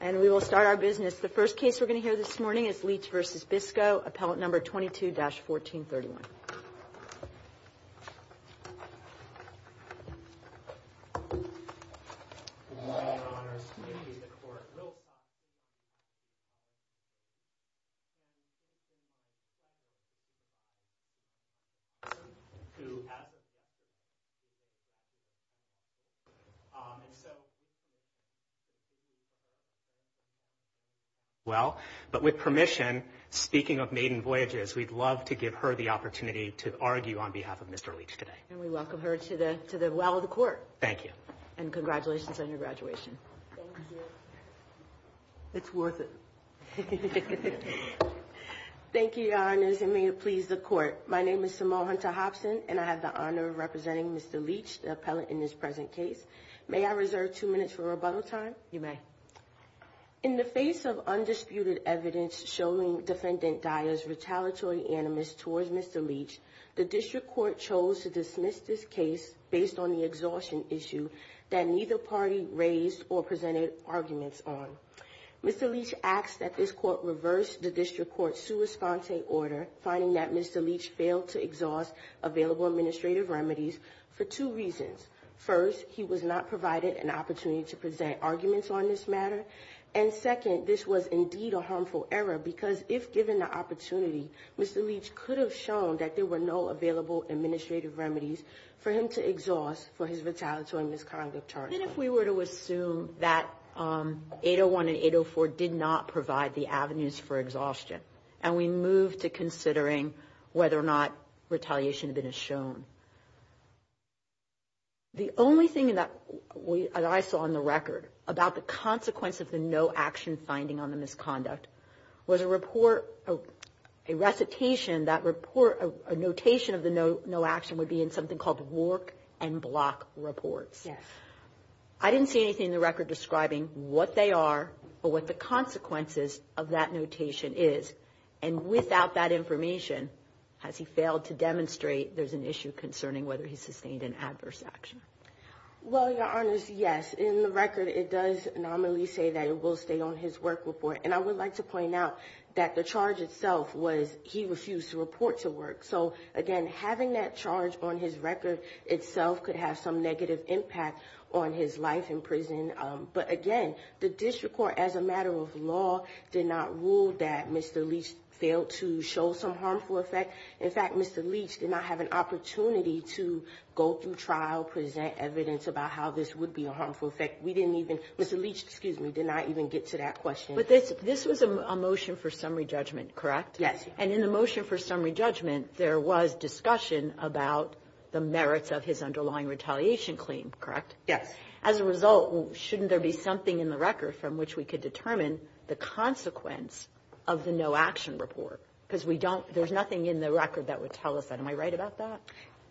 And we will start our business. The first case we're going to hear this morning is Leach v. Biscoe, appellate number 22-1431. Well, but with permission, speaking of maiden voyages, we'd love to give her the opportunity to argue on behalf of Mr. Leach today. And we welcome her to the well of the court. Thank you. And congratulations on your graduation. Thank you. It's worth it. Thank you, Your Honors, and may it please the court. My name is Simone Hunter-Hopson, and I have the honor of representing Mr. Leach, the appellate in this present case. May I reserve two minutes for rebuttal time? You may. In the face of undisputed evidence showing Defendant Dyer's retaliatory animus towards Mr. Leach, the district court chose to dismiss this case based on the exhaustion issue that neither party raised or presented arguments on. Mr. Leach asked that this court reverse the district court's sua sponte order, finding that Mr. Leach failed to exhaust available administrative remedies for two reasons. First, he was not provided an opportunity to present arguments on this matter. And second, this was indeed a harmful error because if given the opportunity, Mr. Leach could have shown that there were no available administrative remedies for him to exhaust for his retaliatory misconduct charge. And if we were to assume that 801 and 804 did not provide the avenues for exhaustion and we move to considering whether or not retaliation had been shown, the only thing that I saw in the record about the consequence of the no action finding on the misconduct was a report, a recitation, that report, a notation of the no action would be in something called work and block reports. I didn't see anything in the record describing what they are or what the consequences of that notation is. And without that information, has he failed to demonstrate there's an issue concerning whether he sustained an adverse action? Well, Your Honors, yes. In the record, it does nominally say that it will stay on his work report. And I would like to point out that the charge itself was he refused to report to work. So, again, having that charge on his record itself could have some negative impact on his life in prison. But, again, the district court, as a matter of law, did not rule that Mr. Leach failed to show some harmful effect. In fact, Mr. Leach did not have an opportunity to go through trial, present evidence about how this would be a harmful effect. We didn't even, Mr. Leach, excuse me, did not even get to that question. But this was a motion for summary judgment, correct? Yes. And in the motion for summary judgment, there was discussion about the merits of his underlying retaliation claim, correct? Yes. As a result, shouldn't there be something in the record from which we could determine the consequence of the no-action report? Because we don't – there's nothing in the record that would tell us that. Am I right about that?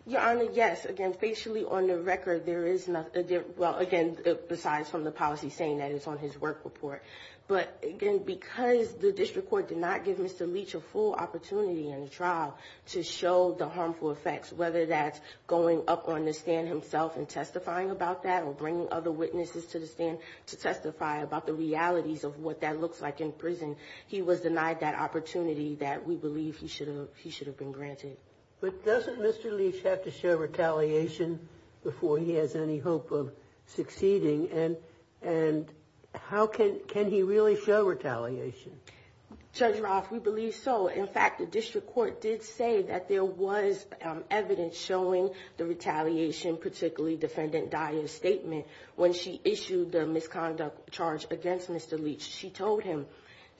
Your Honor, yes. Again, facially on the record, there is – well, again, besides from the policy saying that it's on his work report. But, again, because the district court did not give Mr. Leach a full opportunity in the trial to show the harmful effects, whether that's going up on the stand himself and testifying about that or bringing other witnesses to the stand to testify about the realities of what that looks like in prison, he was denied that opportunity that we believe he should have been granted. But doesn't Mr. Leach have to show retaliation before he has any hope of succeeding? And how can he really show retaliation? Judge Roth, we believe so. In fact, the district court did say that there was evidence showing the retaliation, particularly Defendant Dyer's statement when she issued the misconduct charge against Mr. Leach. She told him,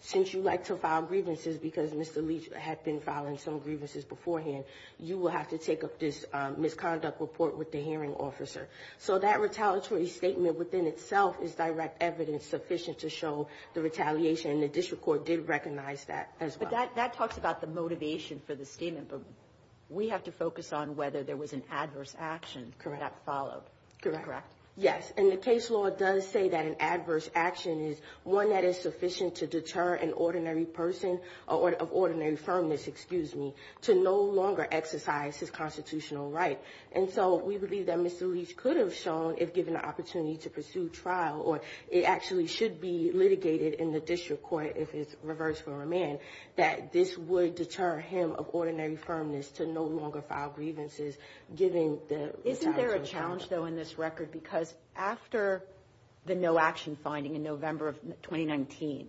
since you like to file grievances because Mr. Leach had been filing some grievances beforehand, you will have to take up this misconduct report with the hearing officer. So that retaliatory statement within itself is direct evidence sufficient to show the retaliation, and the district court did recognize that as well. But that talks about the motivation for the statement, but we have to focus on whether there was an adverse action that followed. Correct. Yes. And the case law does say that an adverse action is one that is sufficient to deter an ordinary person of ordinary firmness, excuse me, to no longer exercise his constitutional right. And so we believe that Mr. Leach could have shown, if given the opportunity to pursue trial, or it actually should be litigated in the district court if it's reversed for a man, that this would deter him of ordinary firmness to no longer file grievances given the retaliatory statement. Isn't there a challenge, though, in this record? Because after the no-action finding in November of 2019,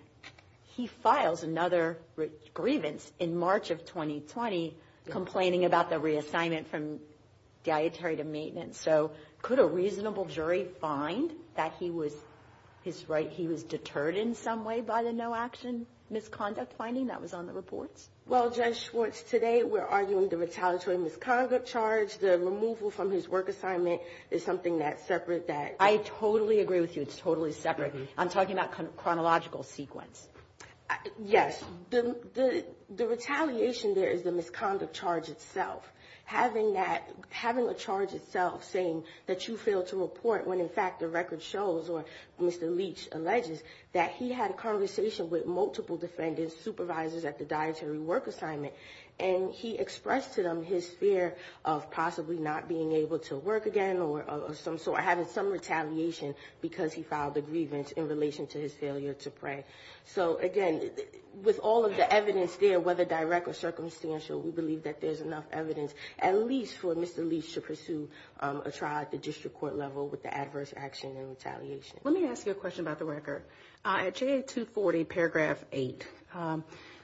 he files another grievance in March of 2020 complaining about the reassignment from dietary to maintenance. So could a reasonable jury find that he was deterred in some way by the no-action misconduct finding that was on the reports? Well, Judge Schwartz, today we're arguing the retaliatory misconduct charge. The removal from his work assignment is something that's separate. I totally agree with you, it's totally separate. I'm talking about chronological sequence. Yes. The retaliation there is the misconduct charge itself. Having a charge itself saying that you failed to report when, in fact, the record shows, or Mr. Leach alleges that he had a conversation with multiple defendants, supervisors at the dietary work assignment, and he expressed to them his fear of possibly not being able to work again or some sort, because he filed a grievance in relation to his failure to pray. So, again, with all of the evidence there, whether direct or circumstantial, we believe that there's enough evidence at least for Mr. Leach to pursue a trial at the district court level with the adverse action and retaliation. Let me ask you a question about the record. At JA240, paragraph 8,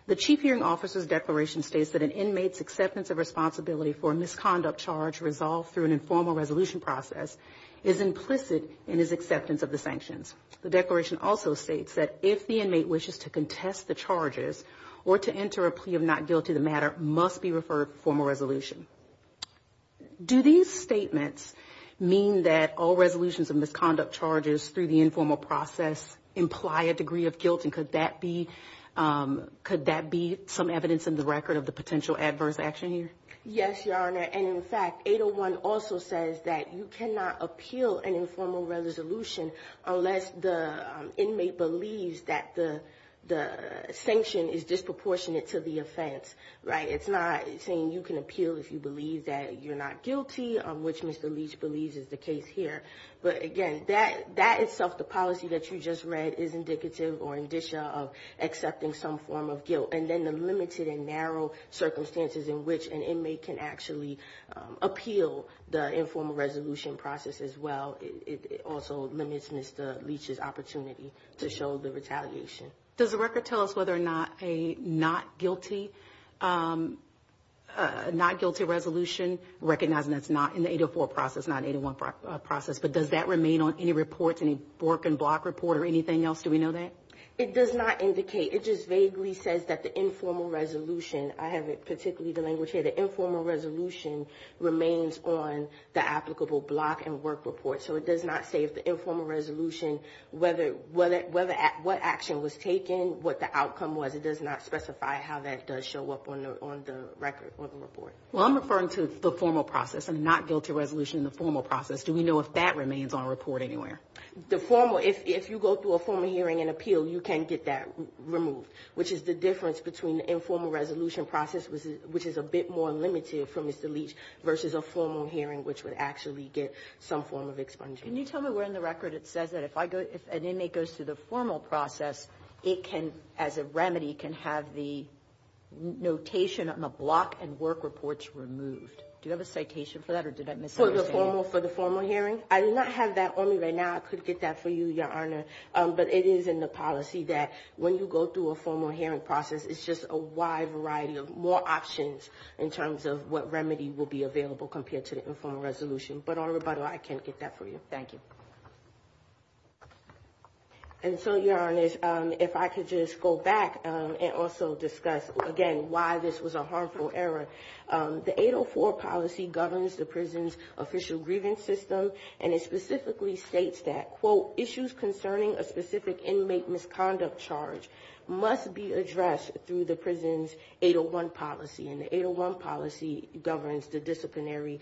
the chief hearing officer's declaration states that an inmate's acceptance of responsibility for a misconduct charge resolved through an informal resolution process is implicit in his acceptance of the sanctions. The declaration also states that if the inmate wishes to contest the charges or to enter a plea of not guilty, the matter must be referred to formal resolution. Do these statements mean that all resolutions of misconduct charges through the informal process imply a degree of guilt, and could that be some evidence in the record of the potential adverse action here? Yes, Your Honor. And, in fact, 801 also says that you cannot appeal an informal resolution unless the inmate believes that the sanction is disproportionate to the offense. Right? It's not saying you can appeal if you believe that you're not guilty, which Mr. Leach believes is the case here. But, again, that itself, the policy that you just read, is indicative or indicia of accepting some form of guilt. And then the limited and narrow circumstances in which an inmate can actually appeal the informal resolution process as well, it also limits Mr. Leach's opportunity to show the retaliation. Does the record tell us whether or not a not guilty resolution, recognizing that's not in the 804 process, not 801 process, but does that remain on any reports, any work and block report or anything else? Do we know that? It does not indicate. It just vaguely says that the informal resolution, I have it particularly the language here, the informal resolution remains on the applicable block and work report. So it does not say if the informal resolution, what action was taken, what the outcome was. It does not specify how that does show up on the record, on the report. Well, I'm referring to the formal process, a not guilty resolution in the formal process. Do we know if that remains on a report anywhere? The formal, if you go through a formal hearing and appeal, you can get that removed, which is the difference between the informal resolution process, which is a bit more limited from Mr. Leach, versus a formal hearing, which would actually get some form of expungement. Can you tell me where in the record it says that if an inmate goes through the formal process, it can, as a remedy, can have the notation on the block and work reports removed? Do you have a citation for that, or did I misunderstand? For the formal hearing? I do not have that on me right now. I could get that for you, Your Honor. But it is in the policy that when you go through a formal hearing process, it's just a wide variety of more options in terms of what remedy will be available compared to the informal resolution. But, on rebuttal, I can't get that for you. Thank you. And so, Your Honor, if I could just go back and also discuss, again, why this was a harmful error. The 804 policy governs the prison's official grievance system, and it specifically states that, quote, issues concerning a specific inmate misconduct charge must be addressed through the prison's 801 policy. And the 801 policy governs the disciplinary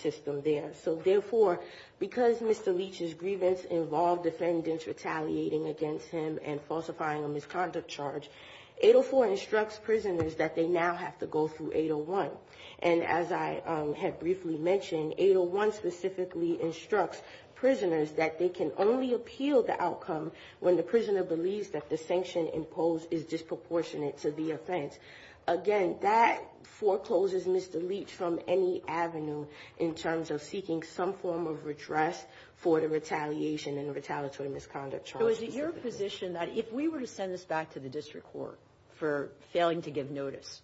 system there. So, therefore, because Mr. Leach's grievance involved defendants retaliating against him and falsifying a misconduct charge, 804 instructs prisoners that they now have to go through 801. And as I have briefly mentioned, 801 specifically instructs prisoners that they can only appeal the outcome when the prisoner believes that the sanction imposed is disproportionate to the offense. Again, that forecloses Mr. Leach from any avenue in terms of seeking some form of redress for the retaliation and retaliatory misconduct charge. So is it your position that if we were to send this back to the district court for failing to give notice,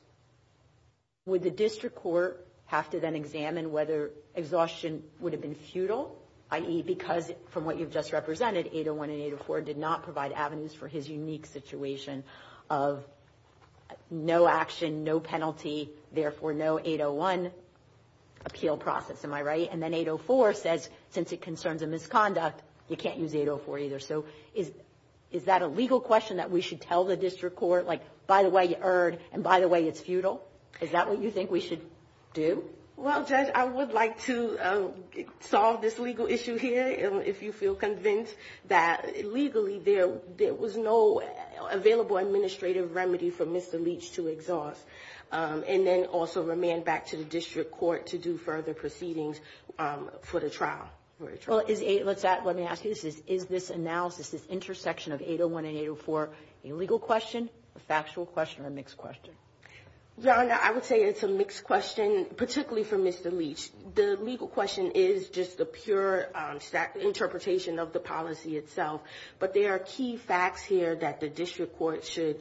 would the district court have to then examine whether exhaustion would have been futile, i.e., because from what you've just represented, 801 and 804 did not provide avenues for his unique situation of no action, no penalty, therefore no 801 appeal process. Am I right? And then 804 says, since it concerns a misconduct, you can't use 804 either. So is that a legal question that we should tell the district court? Like, by the way, you erred, and by the way, it's futile? Is that what you think we should do? Well, Judge, I would like to solve this legal issue here, if you feel convinced that legally there was no available administrative remedy for Mr. Leach to exhaust, and then also remand back to the district court to do further proceedings for the trial. Well, let me ask you this. Is this analysis, this intersection of 801 and 804 a legal question, a factual question, or a mixed question? Your Honor, I would say it's a mixed question, particularly for Mr. Leach. The legal question is just a pure interpretation of the policy itself, but there are key facts here that the district court should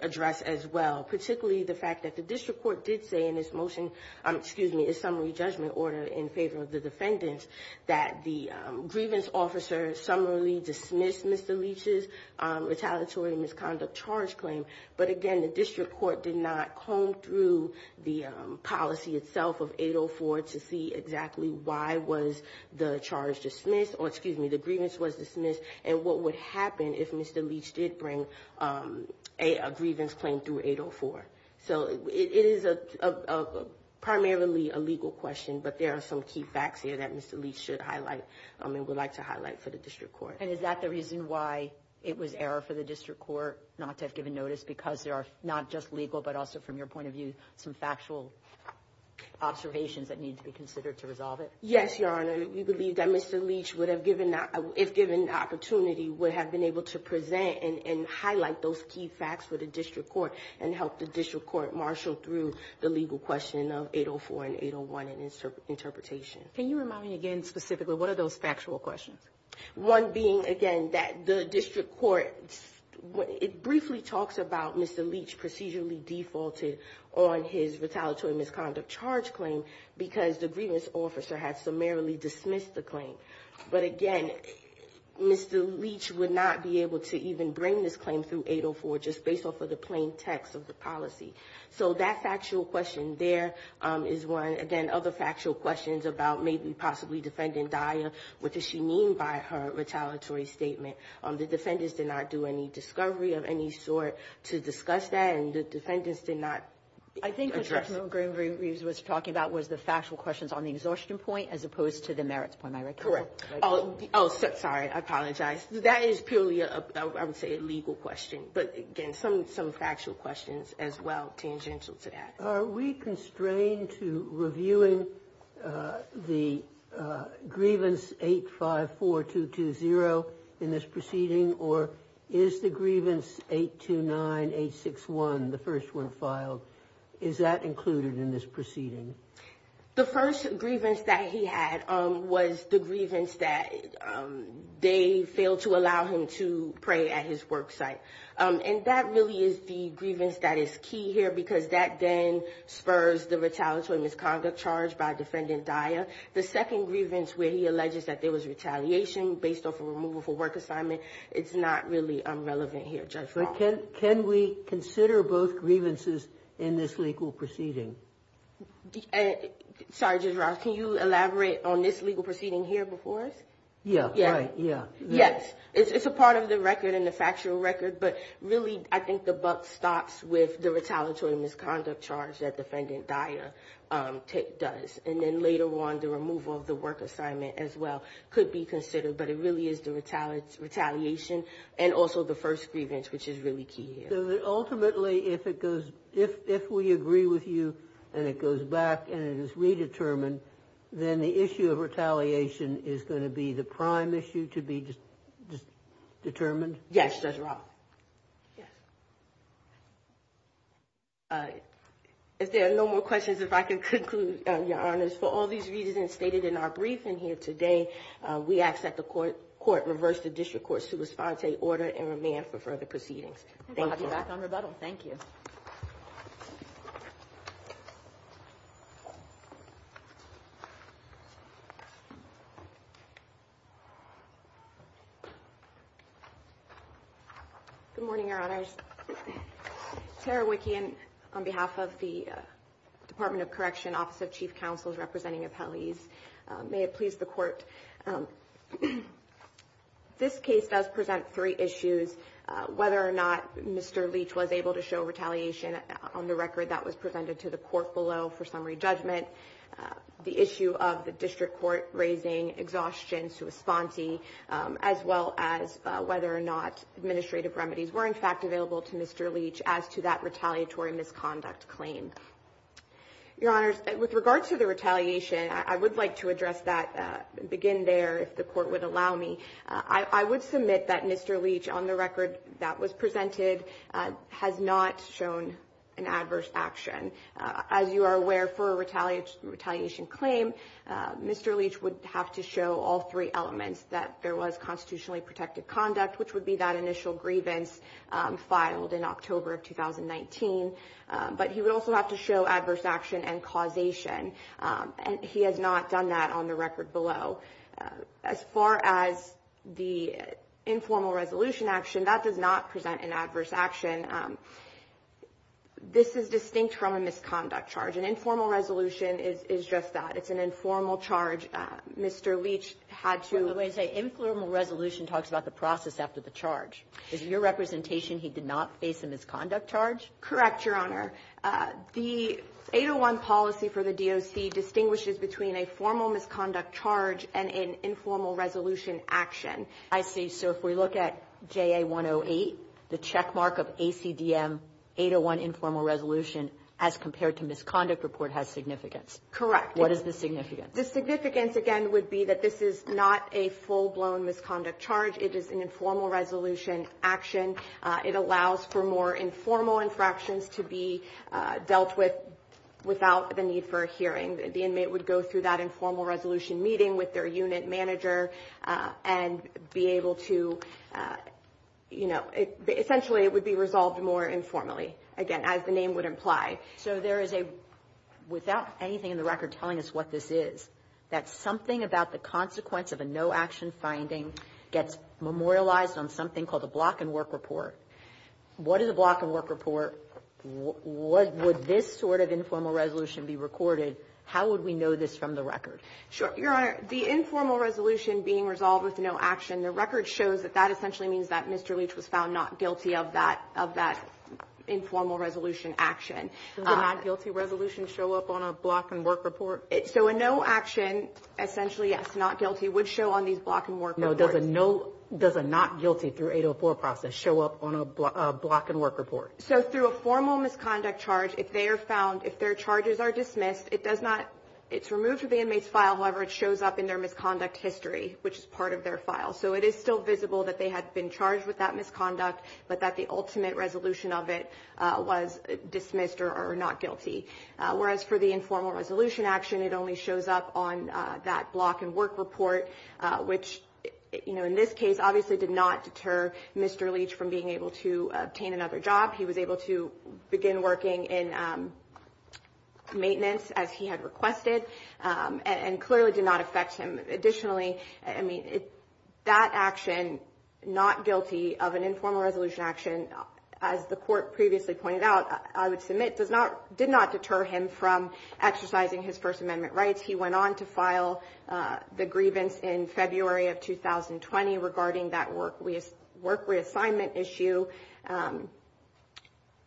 address as well, particularly the fact that the district court did say in its motion, excuse me, its summary judgment order in favor of the defendants, that the grievance officer summarily dismissed Mr. Leach's retaliatory misconduct charge claim. But again, the district court did not comb through the policy itself of 804 to see exactly why was the charge dismissed, or excuse me, the grievance was dismissed, and what would happen if Mr. Leach did bring a grievance claim through 804. So it is primarily a legal question, but there are some key facts here that Mr. Leach should highlight and would like to highlight for the district court. And is that the reason why it was error for the district court not to have given notice, because there are not just legal, but also from your point of view, some factual observations that need to be considered to resolve it? Yes, Your Honor. We believe that Mr. Leach, if given the opportunity, would have been able to present and highlight those key facts for the district court and help the district court marshal through the legal question of 804 and 801 and its interpretation. Can you remind me again specifically, what are those factual questions? One being, again, that the district court briefly talks about Mr. Leach procedurally defaulted on his retaliatory misconduct charge claim because the grievance officer had summarily dismissed the claim. But again, Mr. Leach would not be able to even bring this claim through 804 just based off of the plain text of the policy. So that factual question there is one. Again, other factual questions about maybe possibly Defendant Dyer, what does she mean by her retaliatory statement? The defendants did not do any discovery of any sort to discuss that, and the defendants did not address it. I think what Judge Montgomery-Reeves was talking about was the factual questions on the exhaustion point as opposed to the merits point, I reckon. Correct. Oh, sorry. I apologize. That is purely, I would say, a legal question. But again, some factual questions as well tangential to that. Are we constrained to reviewing the grievance 854220 in this proceeding, or is the grievance 829861, the first one filed, is that included in this proceeding? The first grievance that he had was the grievance that they failed to allow him to pray at his work site. And that really is the grievance that is key here, because that then spurs the retaliatory misconduct charge by Defendant Dyer. The second grievance where he alleges that there was retaliation based off a removal for work assignment, it's not really relevant here, Judge Baum. But can we consider both grievances in this legal proceeding? Sorry, Judge Ross, can you elaborate on this legal proceeding here before us? Yeah, right. Yeah. Yes. It's a part of the record and the factual record. But really, I think the buck stops with the retaliatory misconduct charge that Defendant Dyer does. And then later on, the removal of the work assignment as well could be considered. But it really is the retaliation and also the first grievance, which is really key here. So ultimately, if we agree with you and it goes back and it is redetermined, then the issue of retaliation is going to be the prime issue to be determined? Yes, Judge Ross. Yes. If there are no more questions, if I can conclude, Your Honors, for all these reasons stated in our briefing here today, we ask that the Court reverse the District Court's sua sponte order and remand for further proceedings. Thank you. We'll be back on rebuttal. Thank you. Good morning, Your Honors. Tara Wicke, on behalf of the Department of Correction Office of Chief Counsel's representing appellees, may it please the Court, this case does present three issues, whether or not Mr. Leach was able to show retaliation on the record that was presented to the Court below for summary judgment, the issue of the District Court raising exhaustion sua sponte, as well as whether or not administrative remedies were, in fact, available to Mr. Leach as to that retaliatory misconduct claim. Your Honors, with regards to the retaliation, I would like to address that, begin there, if the Court would allow me. I would submit that Mr. Leach, on the record that was presented, has not shown an adverse action. As you are aware, for a retaliation claim, Mr. Leach would have to show all three elements that there was constitutionally protected conduct, which would be that initial grievance filed in October of 2019. But he would also have to show adverse action and causation. He has not done that on the record below. As far as the informal resolution action, that does not present an adverse action. This is distinct from a misconduct charge. An informal resolution is just that. It's an informal charge. Mr. Leach had to ---- By the way, informal resolution talks about the process after the charge. Is it your representation he did not face a misconduct charge? Correct, Your Honor. The 801 policy for the DOC distinguishes between a formal misconduct charge and an informal resolution action. I see. So if we look at JA-108, the checkmark of ACDM 801 informal resolution as compared to misconduct report has significance. Correct. What is the significance? The significance, again, would be that this is not a full-blown misconduct charge. It is an informal resolution action. It allows for more informal infractions to be dealt with without the need for a hearing. The inmate would go through that informal resolution meeting with their unit manager and be able to, you know, essentially it would be resolved more informally, again, as the name would imply. So there is a, without anything in the record telling us what this is, that something about the consequence of a no-action finding gets memorialized on something called a block-and-work report. What is a block-and-work report? Would this sort of informal resolution be recorded? How would we know this from the record? Sure. Your Honor, the informal resolution being resolved with no action, the record shows that that essentially means that Mr. Leach was found not guilty of that, of that informal resolution action. Does a not-guilty resolution show up on a block-and-work report? So a no-action, essentially, yes, not guilty, would show on these block-and-work reports. No. Does a not guilty through 804 process show up on a block-and-work report? So through a formal misconduct charge, if they are found, if their charges are dismissed, it does not, it's removed from the inmate's file. However, it shows up in their misconduct history, which is part of their file. So it is still visible that they had been charged with that misconduct, but that the ultimate resolution of it was dismissed or not guilty. Whereas for the informal resolution action, it only shows up on that block-and-work report, which, you know, in this case obviously did not deter Mr. Leach from being able to obtain another job. He was able to begin working in maintenance, as he had requested, and clearly did not affect him. Additionally, I mean, that action, not guilty of an informal resolution action, as the Court previously pointed out, I would submit, does not, did not deter him from exercising his First Amendment rights. He went on to file the grievance in February of 2020 regarding that work reassignment issue,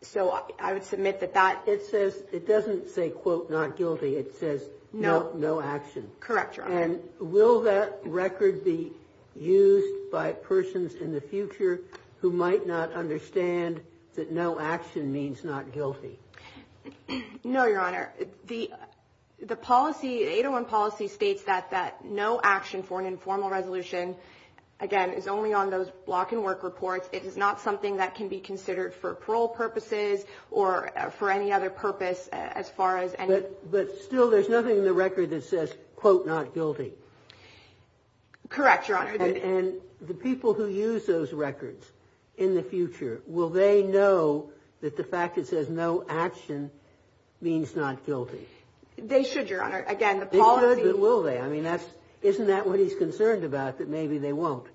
so I would submit that that... It says, it doesn't say, quote, not guilty, it says no action. Correct, Your Honor. And will that record be used by persons in the future who might not understand that no action means not guilty? No, Your Honor. The policy, 801 policy states that no action for an informal resolution, again, is only on those block-and-work reports. It is not something that can be considered for parole purposes or for any other purpose as far as any... But still, there's nothing in the record that says, quote, not guilty. Correct, Your Honor. And the people who use those records in the future, will they know that the fact it says no action means not guilty? They should, Your Honor. Again, the policy... They should, but will they? I mean, that's, isn't that what he's concerned about, that maybe they won't?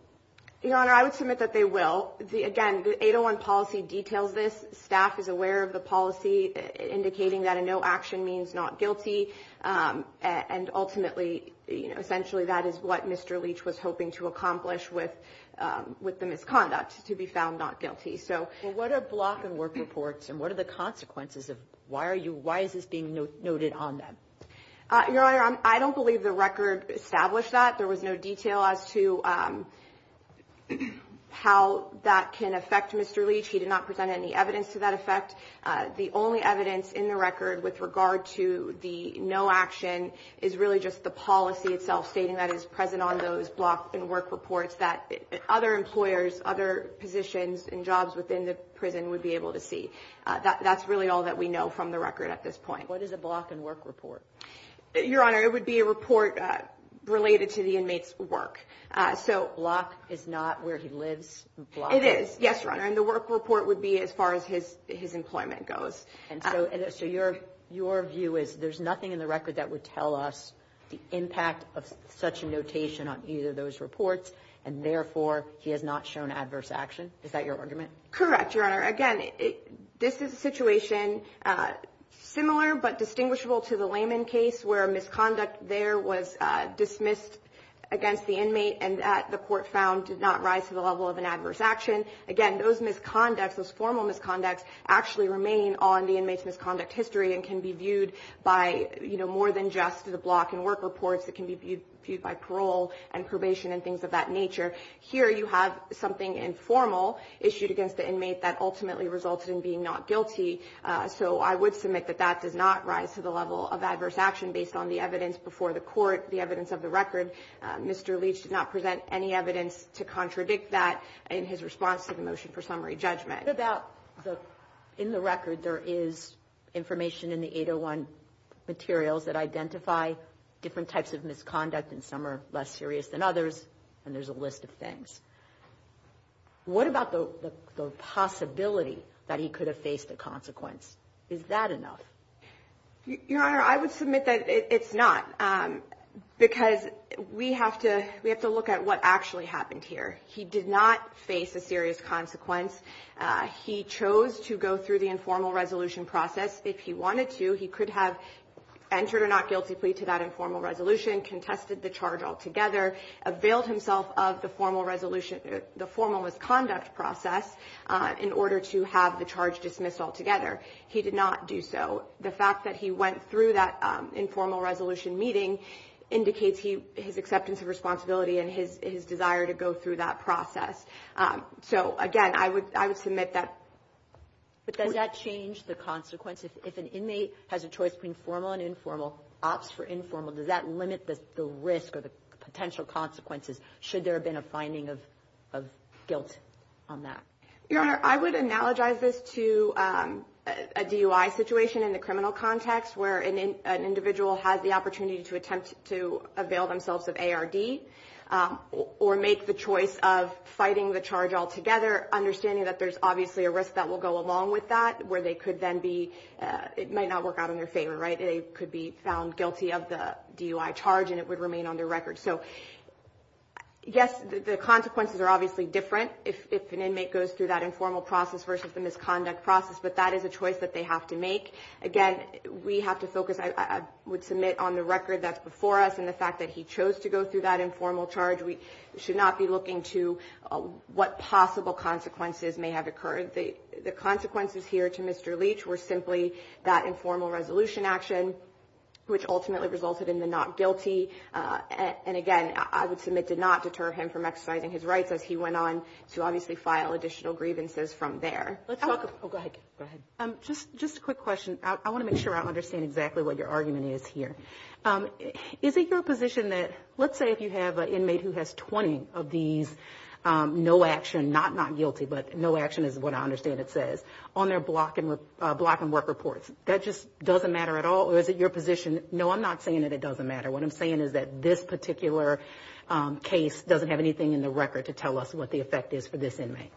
Your Honor, I would submit that they will. Again, the 801 policy details this. Staff is aware of the policy indicating that a no action means not guilty, and ultimately, you know, essentially that is what Mr. Leach was hoping to accomplish with the misconduct, to be found not guilty, so... Well, what are block-and-work reports, and what are the consequences of... Why are you... Why is this being noted on them? Your Honor, I don't believe the record established that. There was no detail as to how that can affect Mr. Leach. He did not present any evidence to that effect. The only evidence in the record with regard to the no action is really just the policy itself, stating that it's present on those block-and-work reports that other employers, other positions and jobs within the prison would be able to see. That's really all that we know from the record at this point. What is a block-and-work report? Your Honor, it would be a report related to the inmate's work. So block is not where he lives? It is, yes, Your Honor, and the work report would be as far as his employment goes. So your view is there's nothing in the record that would tell us the impact of such a notation on either of those reports, and therefore he has not shown adverse action? Is that your argument? Correct, Your Honor. Your Honor, again, this is a situation similar but distinguishable to the Lehman case where misconduct there was dismissed against the inmate and that the court found did not rise to the level of an adverse action. Again, those misconducts, those formal misconducts, actually remain on the inmate's misconduct history and can be viewed by more than just the block-and-work reports. It can be viewed by parole and probation and things of that nature. Here you have something informal issued against the inmate that ultimately resulted in being not guilty. So I would submit that that does not rise to the level of adverse action based on the evidence before the court, the evidence of the record. Mr. Leach did not present any evidence to contradict that in his response to the motion for summary judgment. In the record, there is information in the 801 materials that identify different types of misconduct, and some are less serious than others, and there's a list of things. What about the possibility that he could have faced a consequence? Is that enough? Your Honor, I would submit that it's not because we have to look at what actually happened here. He did not face a serious consequence. He chose to go through the informal resolution process. If he wanted to, he could have entered or not guilty plea to that informal resolution, contested the charge altogether, availed himself of the formal resolution or the formal misconduct process in order to have the charge dismissed altogether. He did not do so. The fact that he went through that informal resolution meeting indicates his acceptance of responsibility and his desire to go through that process. So, again, I would submit that. But does that change the consequence? If an inmate has a choice between formal and informal, opts for informal, does that limit the risk or the potential consequences should there have been a finding of guilt on that? Your Honor, I would analogize this to a DUI situation in the criminal context, where an individual has the opportunity to attempt to avail themselves of ARD or make the choice of fighting the charge altogether, understanding that there's obviously a risk that will go along with that, where they could then be, it might not work out in their favor, right? They could be found guilty of the DUI charge and it would remain on their record. So, yes, the consequences are obviously different if an inmate goes through that informal process versus the misconduct process, but that is a choice that they have to make. Again, we have to focus, I would submit, on the record that's before us and the fact that he chose to go through that informal charge. We should not be looking to what possible consequences may have occurred. The consequences here to Mr. Leach were simply that informal resolution action, which ultimately resulted in the not guilty. And, again, I would submit did not deter him from exercising his rights, as he went on to obviously file additional grievances from there. Oh, go ahead. Go ahead. Just a quick question. I want to make sure I understand exactly what your argument is here. Is it your position that let's say if you have an inmate who has 20 of these no action, not not guilty, but no action is what I understand it says, on their block and work reports, that just doesn't matter at all? Or is it your position, no, I'm not saying that it doesn't matter. What I'm saying is that this particular case doesn't have anything in the record to tell us what the effect is for this inmate.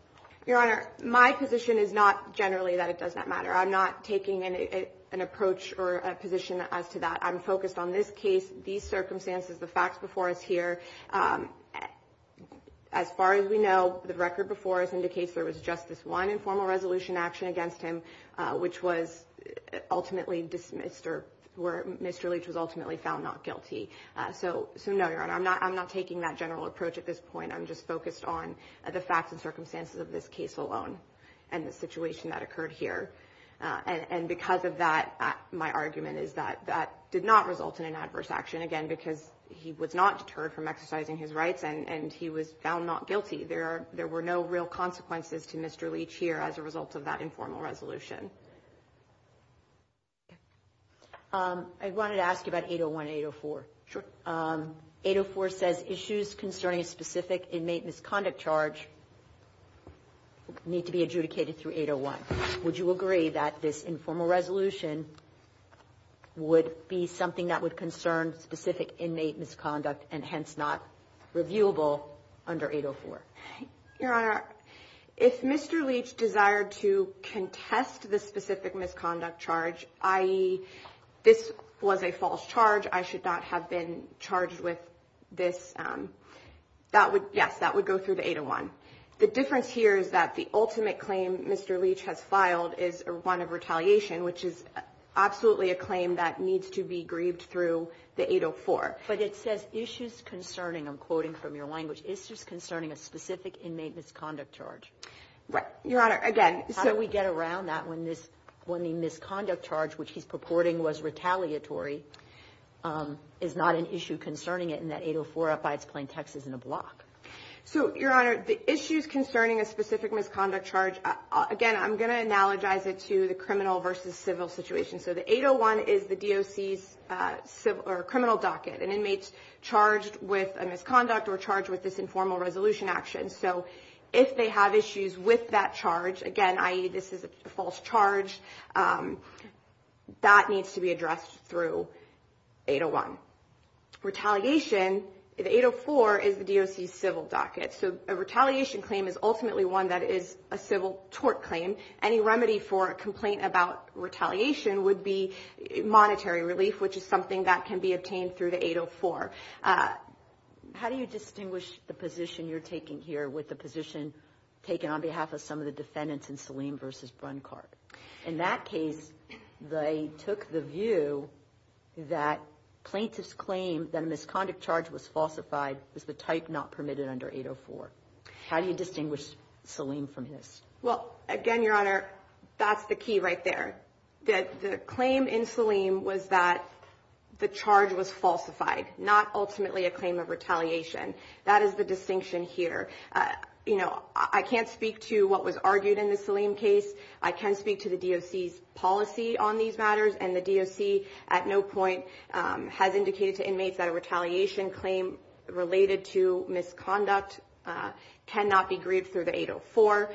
Your Honor, my position is not generally that it does not matter. I'm not taking an approach or a position as to that. I'm focused on this case, these circumstances, the facts before us here. As far as we know, the record before us indicates there was just this one informal resolution action against him, which was ultimately dismissed or where Mr. Leach was ultimately found not guilty. So, no, Your Honor, I'm not taking that general approach at this point. I'm just focused on the facts and circumstances of this case alone and the situation that occurred here. And because of that, my argument is that that did not result in an adverse action, again, because he was not deterred from exercising his rights and he was found not guilty. There were no real consequences to Mr. Leach here as a result of that informal resolution. I wanted to ask you about 801 and 804. Sure. 804 says issues concerning a specific inmate misconduct charge need to be adjudicated through 801. Would you agree that this informal resolution would be something that would concern specific inmate misconduct and hence not reviewable under 804? Your Honor, if Mr. Leach desired to contest the specific misconduct charge, i.e., this was a false charge, I should not have been charged with this, that would, yes, that would go through the 801. The difference here is that the ultimate claim Mr. Leach has filed is one of retaliation, which is absolutely a claim that needs to be grieved through the 804. But it says issues concerning, I'm quoting from your language, issues concerning a specific inmate misconduct charge. Right. Your Honor, again. How do we get around that when the misconduct charge, which he's purporting was retaliatory, is not an issue concerning it and that 804, by its plaintext, isn't a block? So, Your Honor, the issues concerning a specific misconduct charge, again, I'm going to analogize it to the criminal versus civil situation. So the 801 is the DOC's criminal docket, an inmate charged with a misconduct or charged with this informal resolution action. So if they have issues with that charge, again, i.e., this is a false charge, that needs to be addressed through 801. Retaliation, the 804 is the DOC's civil docket. So a retaliation claim is ultimately one that is a civil tort claim. Any remedy for a complaint about retaliation would be monetary relief, which is something that can be obtained through the 804. How do you distinguish the position you're taking here with the position taken on behalf of some of the defendants in Salim versus Brunckhardt? In that case, they took the view that plaintiff's claim that a misconduct charge was falsified was the type not permitted under 804. How do you distinguish Salim from his? Well, again, Your Honor, that's the key right there. The claim in Salim was that the charge was falsified, not ultimately a claim of retaliation. That is the distinction here. You know, I can't speak to what was argued in the Salim case. I can speak to the DOC's policy on these matters, and the DOC at no point has indicated to inmates that a retaliation claim related to misconduct cannot be grieved through the 804.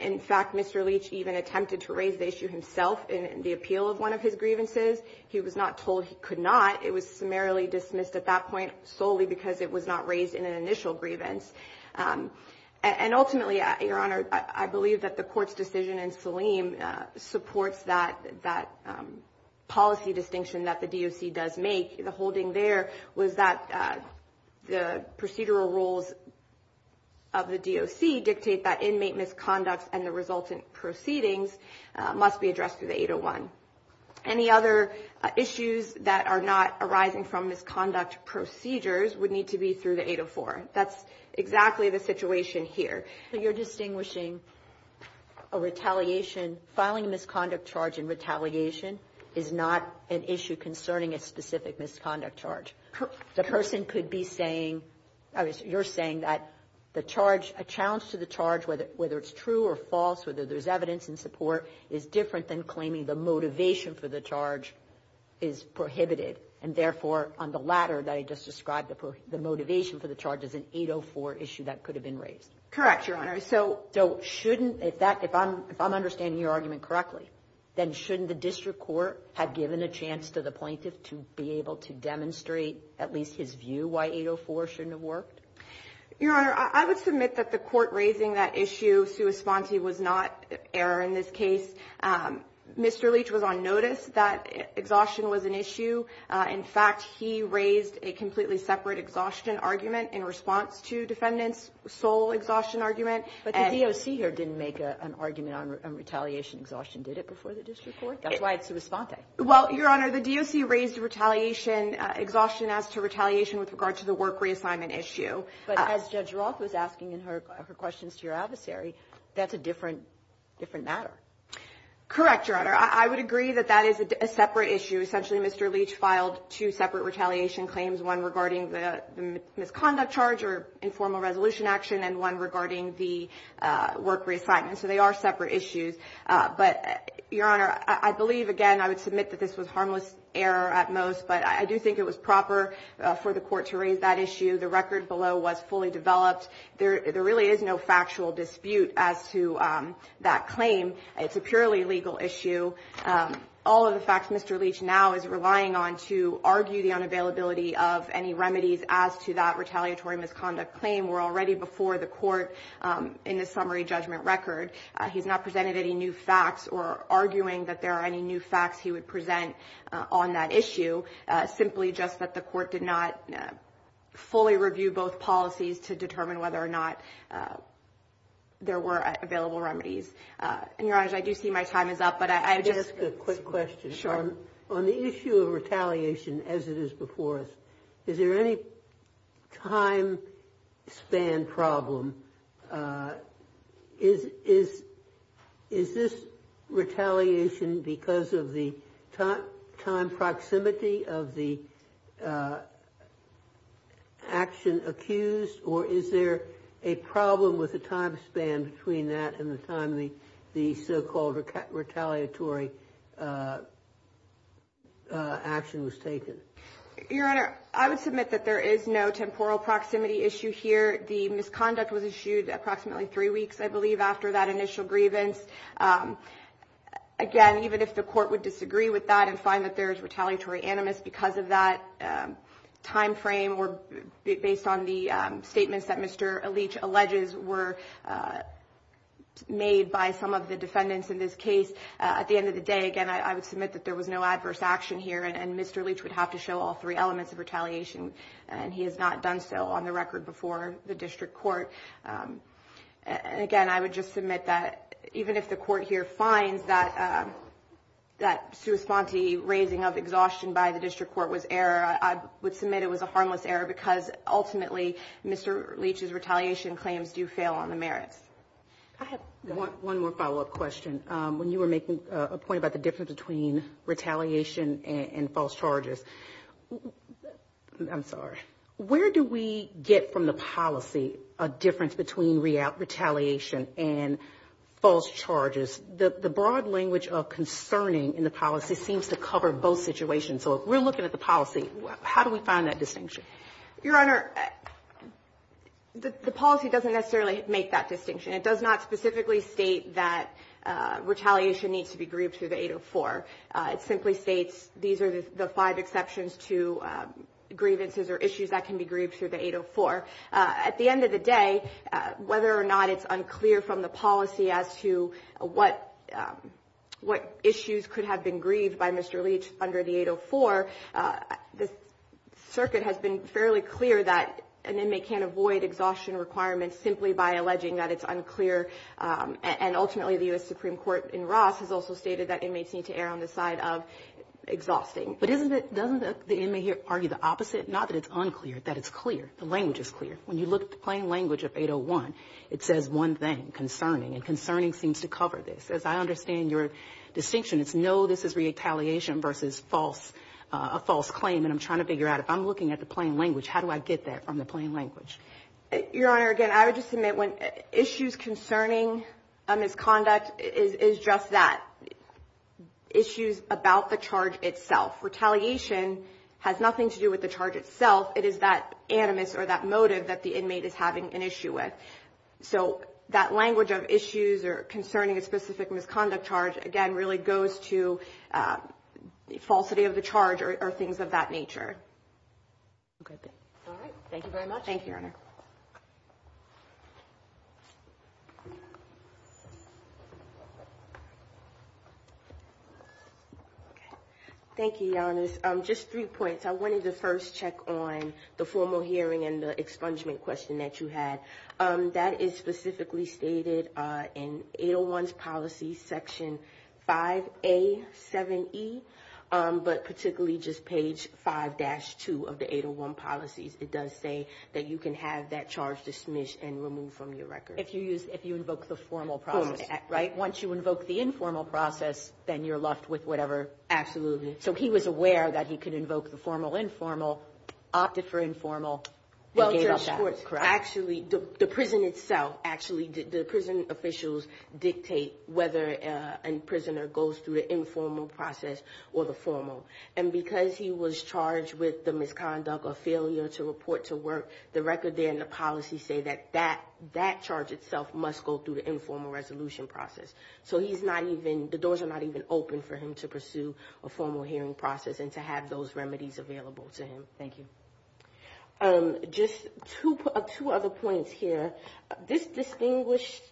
In fact, Mr. Leach even attempted to raise the issue himself in the appeal of one of his grievances. He was not told he could not. It was summarily dismissed at that point solely because it was not raised in an initial grievance. And ultimately, Your Honor, I believe that the court's decision in Salim supports that policy distinction that the DOC does make. The holding there was that the procedural rules of the DOC dictate that inmate misconduct and the resultant proceedings must be addressed through the 801. Any other issues that are not arising from misconduct procedures would need to be through the 804. That's exactly the situation here. But you're distinguishing a retaliation. Filing a misconduct charge in retaliation is not an issue concerning a specific misconduct charge. The person could be saying, you're saying that the charge, a challenge to the charge, whether it's true or false, whether there's evidence in support, is different than claiming the motivation for the charge is prohibited. And therefore, on the latter that I just described, the motivation for the charge is an 804 issue that could have been raised. Correct, Your Honor. So shouldn't, if I'm understanding your argument correctly, then shouldn't the district court have given a chance to the plaintiff to be able to demonstrate at least his view why 804 shouldn't have worked? Your Honor, I would submit that the court raising that issue sui sponte was not error in this case. Mr. Leach was on notice that exhaustion was an issue. In fact, he raised a completely separate exhaustion argument in response to defendant's sole exhaustion argument. But the DOC here didn't make an argument on retaliation exhaustion, did it, before the district court? That's why it's sui sponte. Well, Your Honor, the DOC raised retaliation exhaustion as to retaliation with regard to the work reassignment issue. But as Judge Roth was asking in her questions to your adversary, that's a different matter. Correct, Your Honor. I would agree that that is a separate issue. Essentially, Mr. Leach filed two separate retaliation claims, one regarding the misconduct charge or informal resolution action, and one regarding the work reassignment. So they are separate issues. But, Your Honor, I believe, again, I would submit that this was harmless error at most. But I do think it was proper for the court to raise that issue. The record below was fully developed. There really is no factual dispute as to that claim. It's a purely legal issue. All of the facts Mr. Leach now is relying on to argue the unavailability of any remedies as to that retaliatory misconduct claim were already before the court in the summary judgment record. He's not presented any new facts or arguing that there are any new facts he would present on that issue, simply just that the court did not fully review both policies to determine whether or not there were available remedies. And, Your Honor, I do see my time is up. But I just – Let me ask a quick question. Sure. On the issue of retaliation as it is before us, is there any time span problem? Is this retaliation because of the time proximity of the action accused? Or is there a problem with the time span between that and the time the so-called retaliatory action was taken? Your Honor, I would submit that there is no temporal proximity issue here. The misconduct was issued approximately three weeks, I believe, after that initial grievance. Again, even if the court would disagree with that and find that there is retaliatory animus because of that time frame or based on the statements that Mr. Leach alleges were made by some of the defendants in this case, at the end of the day, again, I would submit that there was no adverse action here, and Mr. Leach would have to show all three elements of retaliation. And he has not done so on the record before the district court. Again, I would just submit that even if the court here finds that that sui sponte raising of exhaustion by the district court was error, I would submit it was a harmless error because, ultimately, Mr. Leach's retaliation claims do fail on the merits. I have one more follow-up question. When you were making a point about the difference between retaliation and false charges, I'm sorry, where do we get from the policy a difference between retaliation and false charges? The broad language of concerning in the policy seems to cover both situations. So if we're looking at the policy, how do we find that distinction? Your Honor, the policy doesn't necessarily make that distinction. It does not specifically state that retaliation needs to be grieved through the 804. It simply states these are the five exceptions to grievances or issues that can be grieved through the 804. At the end of the day, whether or not it's unclear from the policy as to what issues could have been grieved by Mr. Leach under the 804, the circuit has been fairly clear that an inmate can't avoid exhaustion requirements simply by alleging that it's unclear. And ultimately, the U.S. Supreme Court in Ross has also stated that inmates need to err on the side of exhausting. But doesn't the inmate here argue the opposite, not that it's unclear, that it's clear, the language is clear? When you look at the plain language of 801, it says one thing, concerning, and concerning seems to cover this. As I understand your distinction, it's no, this is retaliation versus false, a false claim. And I'm trying to figure out, if I'm looking at the plain language, how do I get that from the plain language? Your Honor, again, I would just submit when issues concerning a misconduct is just that, issues about the charge itself. Retaliation has nothing to do with the charge itself. It is that animus or that motive that the inmate is having an issue with. So that language of issues or concerning a specific misconduct charge, again, really goes to falsity of the charge or things of that nature. All right. Thank you very much. Thank you, Your Honor. Thank you, Your Honor. Just three points. I wanted to first check on the formal hearing and the expungement question that you had. That is specifically stated in 801's policy section 5A7E, but particularly just page 5-2 of the 801 policies. It does say that you can have that charge dismissed and removed from your record. If you invoke the formal process. Right. Once you invoke the informal process, then you're left with whatever. Absolutely. So he was aware that he could invoke the formal, informal, opted for informal, and gave up that, correct? Actually, the prison itself, actually, the prison officials dictate whether a prisoner goes through the informal process or the formal. And because he was charged with the misconduct or failure to report to work, the record there in the policy say that that charge itself must go through the informal resolution process. So he's not even, the doors are not even open for him to pursue a formal hearing process and to have those remedies available to him. Thank you. Just two other points here. This distinguished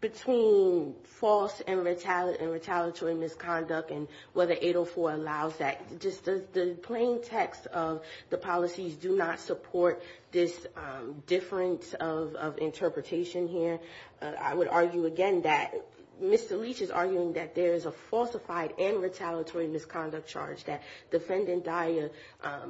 between false and retaliatory misconduct and whether 804 allows that. Just the plain text of the policies do not support this difference of interpretation here. And I would argue again that Mr. Leach is arguing that there is a falsified and retaliatory misconduct charge. That Defendant Dyer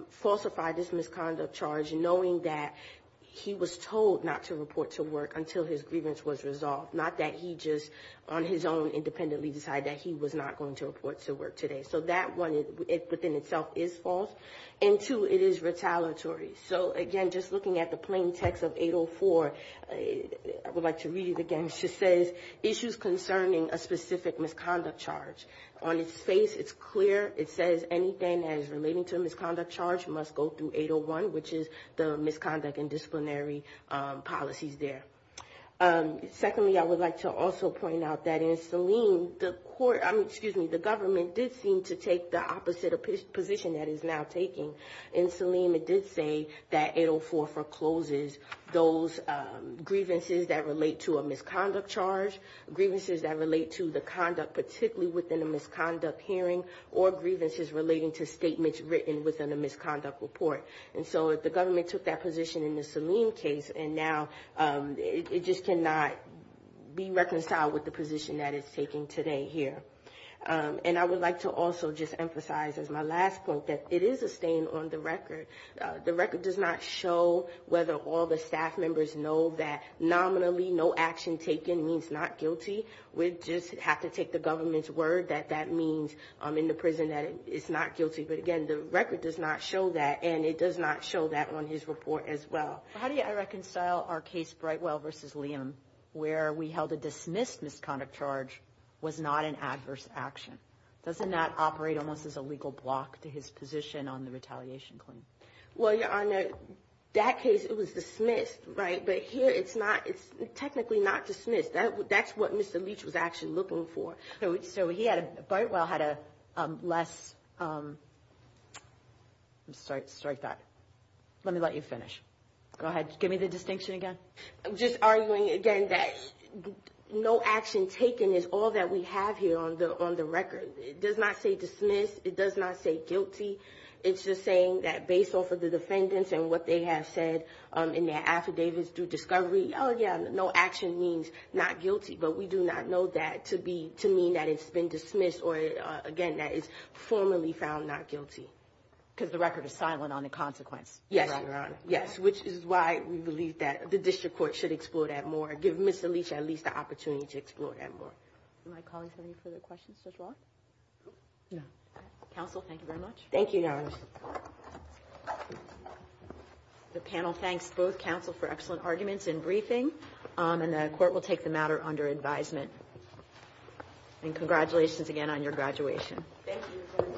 falsified this misconduct charge knowing that he was told not to report to work until his grievance was resolved. Not that he just on his own independently decided that he was not going to report to work today. So that one within itself is false. And two, it is retaliatory. So again, just looking at the plain text of 804, I would like to read it again. It just says, issues concerning a specific misconduct charge. On its face, it's clear. It says anything that is relating to a misconduct charge must go through 801, which is the misconduct and disciplinary policies there. Secondly, I would like to also point out that in Selim, the court, excuse me, the government did seem to take the opposite position that it's now taking. In Selim, it did say that 804 forecloses those grievances that relate to a misconduct charge, grievances that relate to the conduct particularly within a misconduct hearing, or grievances relating to statements written within a misconduct report. And so the government took that position in the Selim case, and now it just cannot be reconciled with the position that it's taking today here. And I would like to also just emphasize as my last point that it is a stain on the record. The record does not show whether all the staff members know that nominally no action taken means not guilty. We just have to take the government's word that that means in the prison that it's not guilty. But again, the record does not show that, and it does not show that on his report as well. How do I reconcile our case Brightwell versus Liam, where we held a dismissed misconduct charge was not an adverse action? Doesn't that operate almost as a legal block to his position on the retaliation claim? Well, Your Honor, that case, it was dismissed, right? But here it's not. It's technically not dismissed. That's what Mr. Leach was actually looking for. So Brightwell had a less – let me let you finish. Go ahead. Give me the distinction again. I'm just arguing again that no action taken is all that we have here on the record. It does not say dismissed. It does not say guilty. It's just saying that based off of the defendants and what they have said in their affidavits through discovery, oh, yeah, no action means not guilty. But we do not know that to mean that it's been dismissed or, again, that it's formally found not guilty. Because the record is silent on the consequence. Yes, Your Honor. Yes, which is why we believe that the district court should explore that more, give Mr. Leach at least the opportunity to explore that more. Am I calling for any further questions, Judge Waller? Counsel, thank you very much. Thank you, Your Honor. The panel thanks both counsel for excellent arguments and briefing, and the court will take the matter under advisement. And congratulations again on your graduation. Thank you, Your Honor.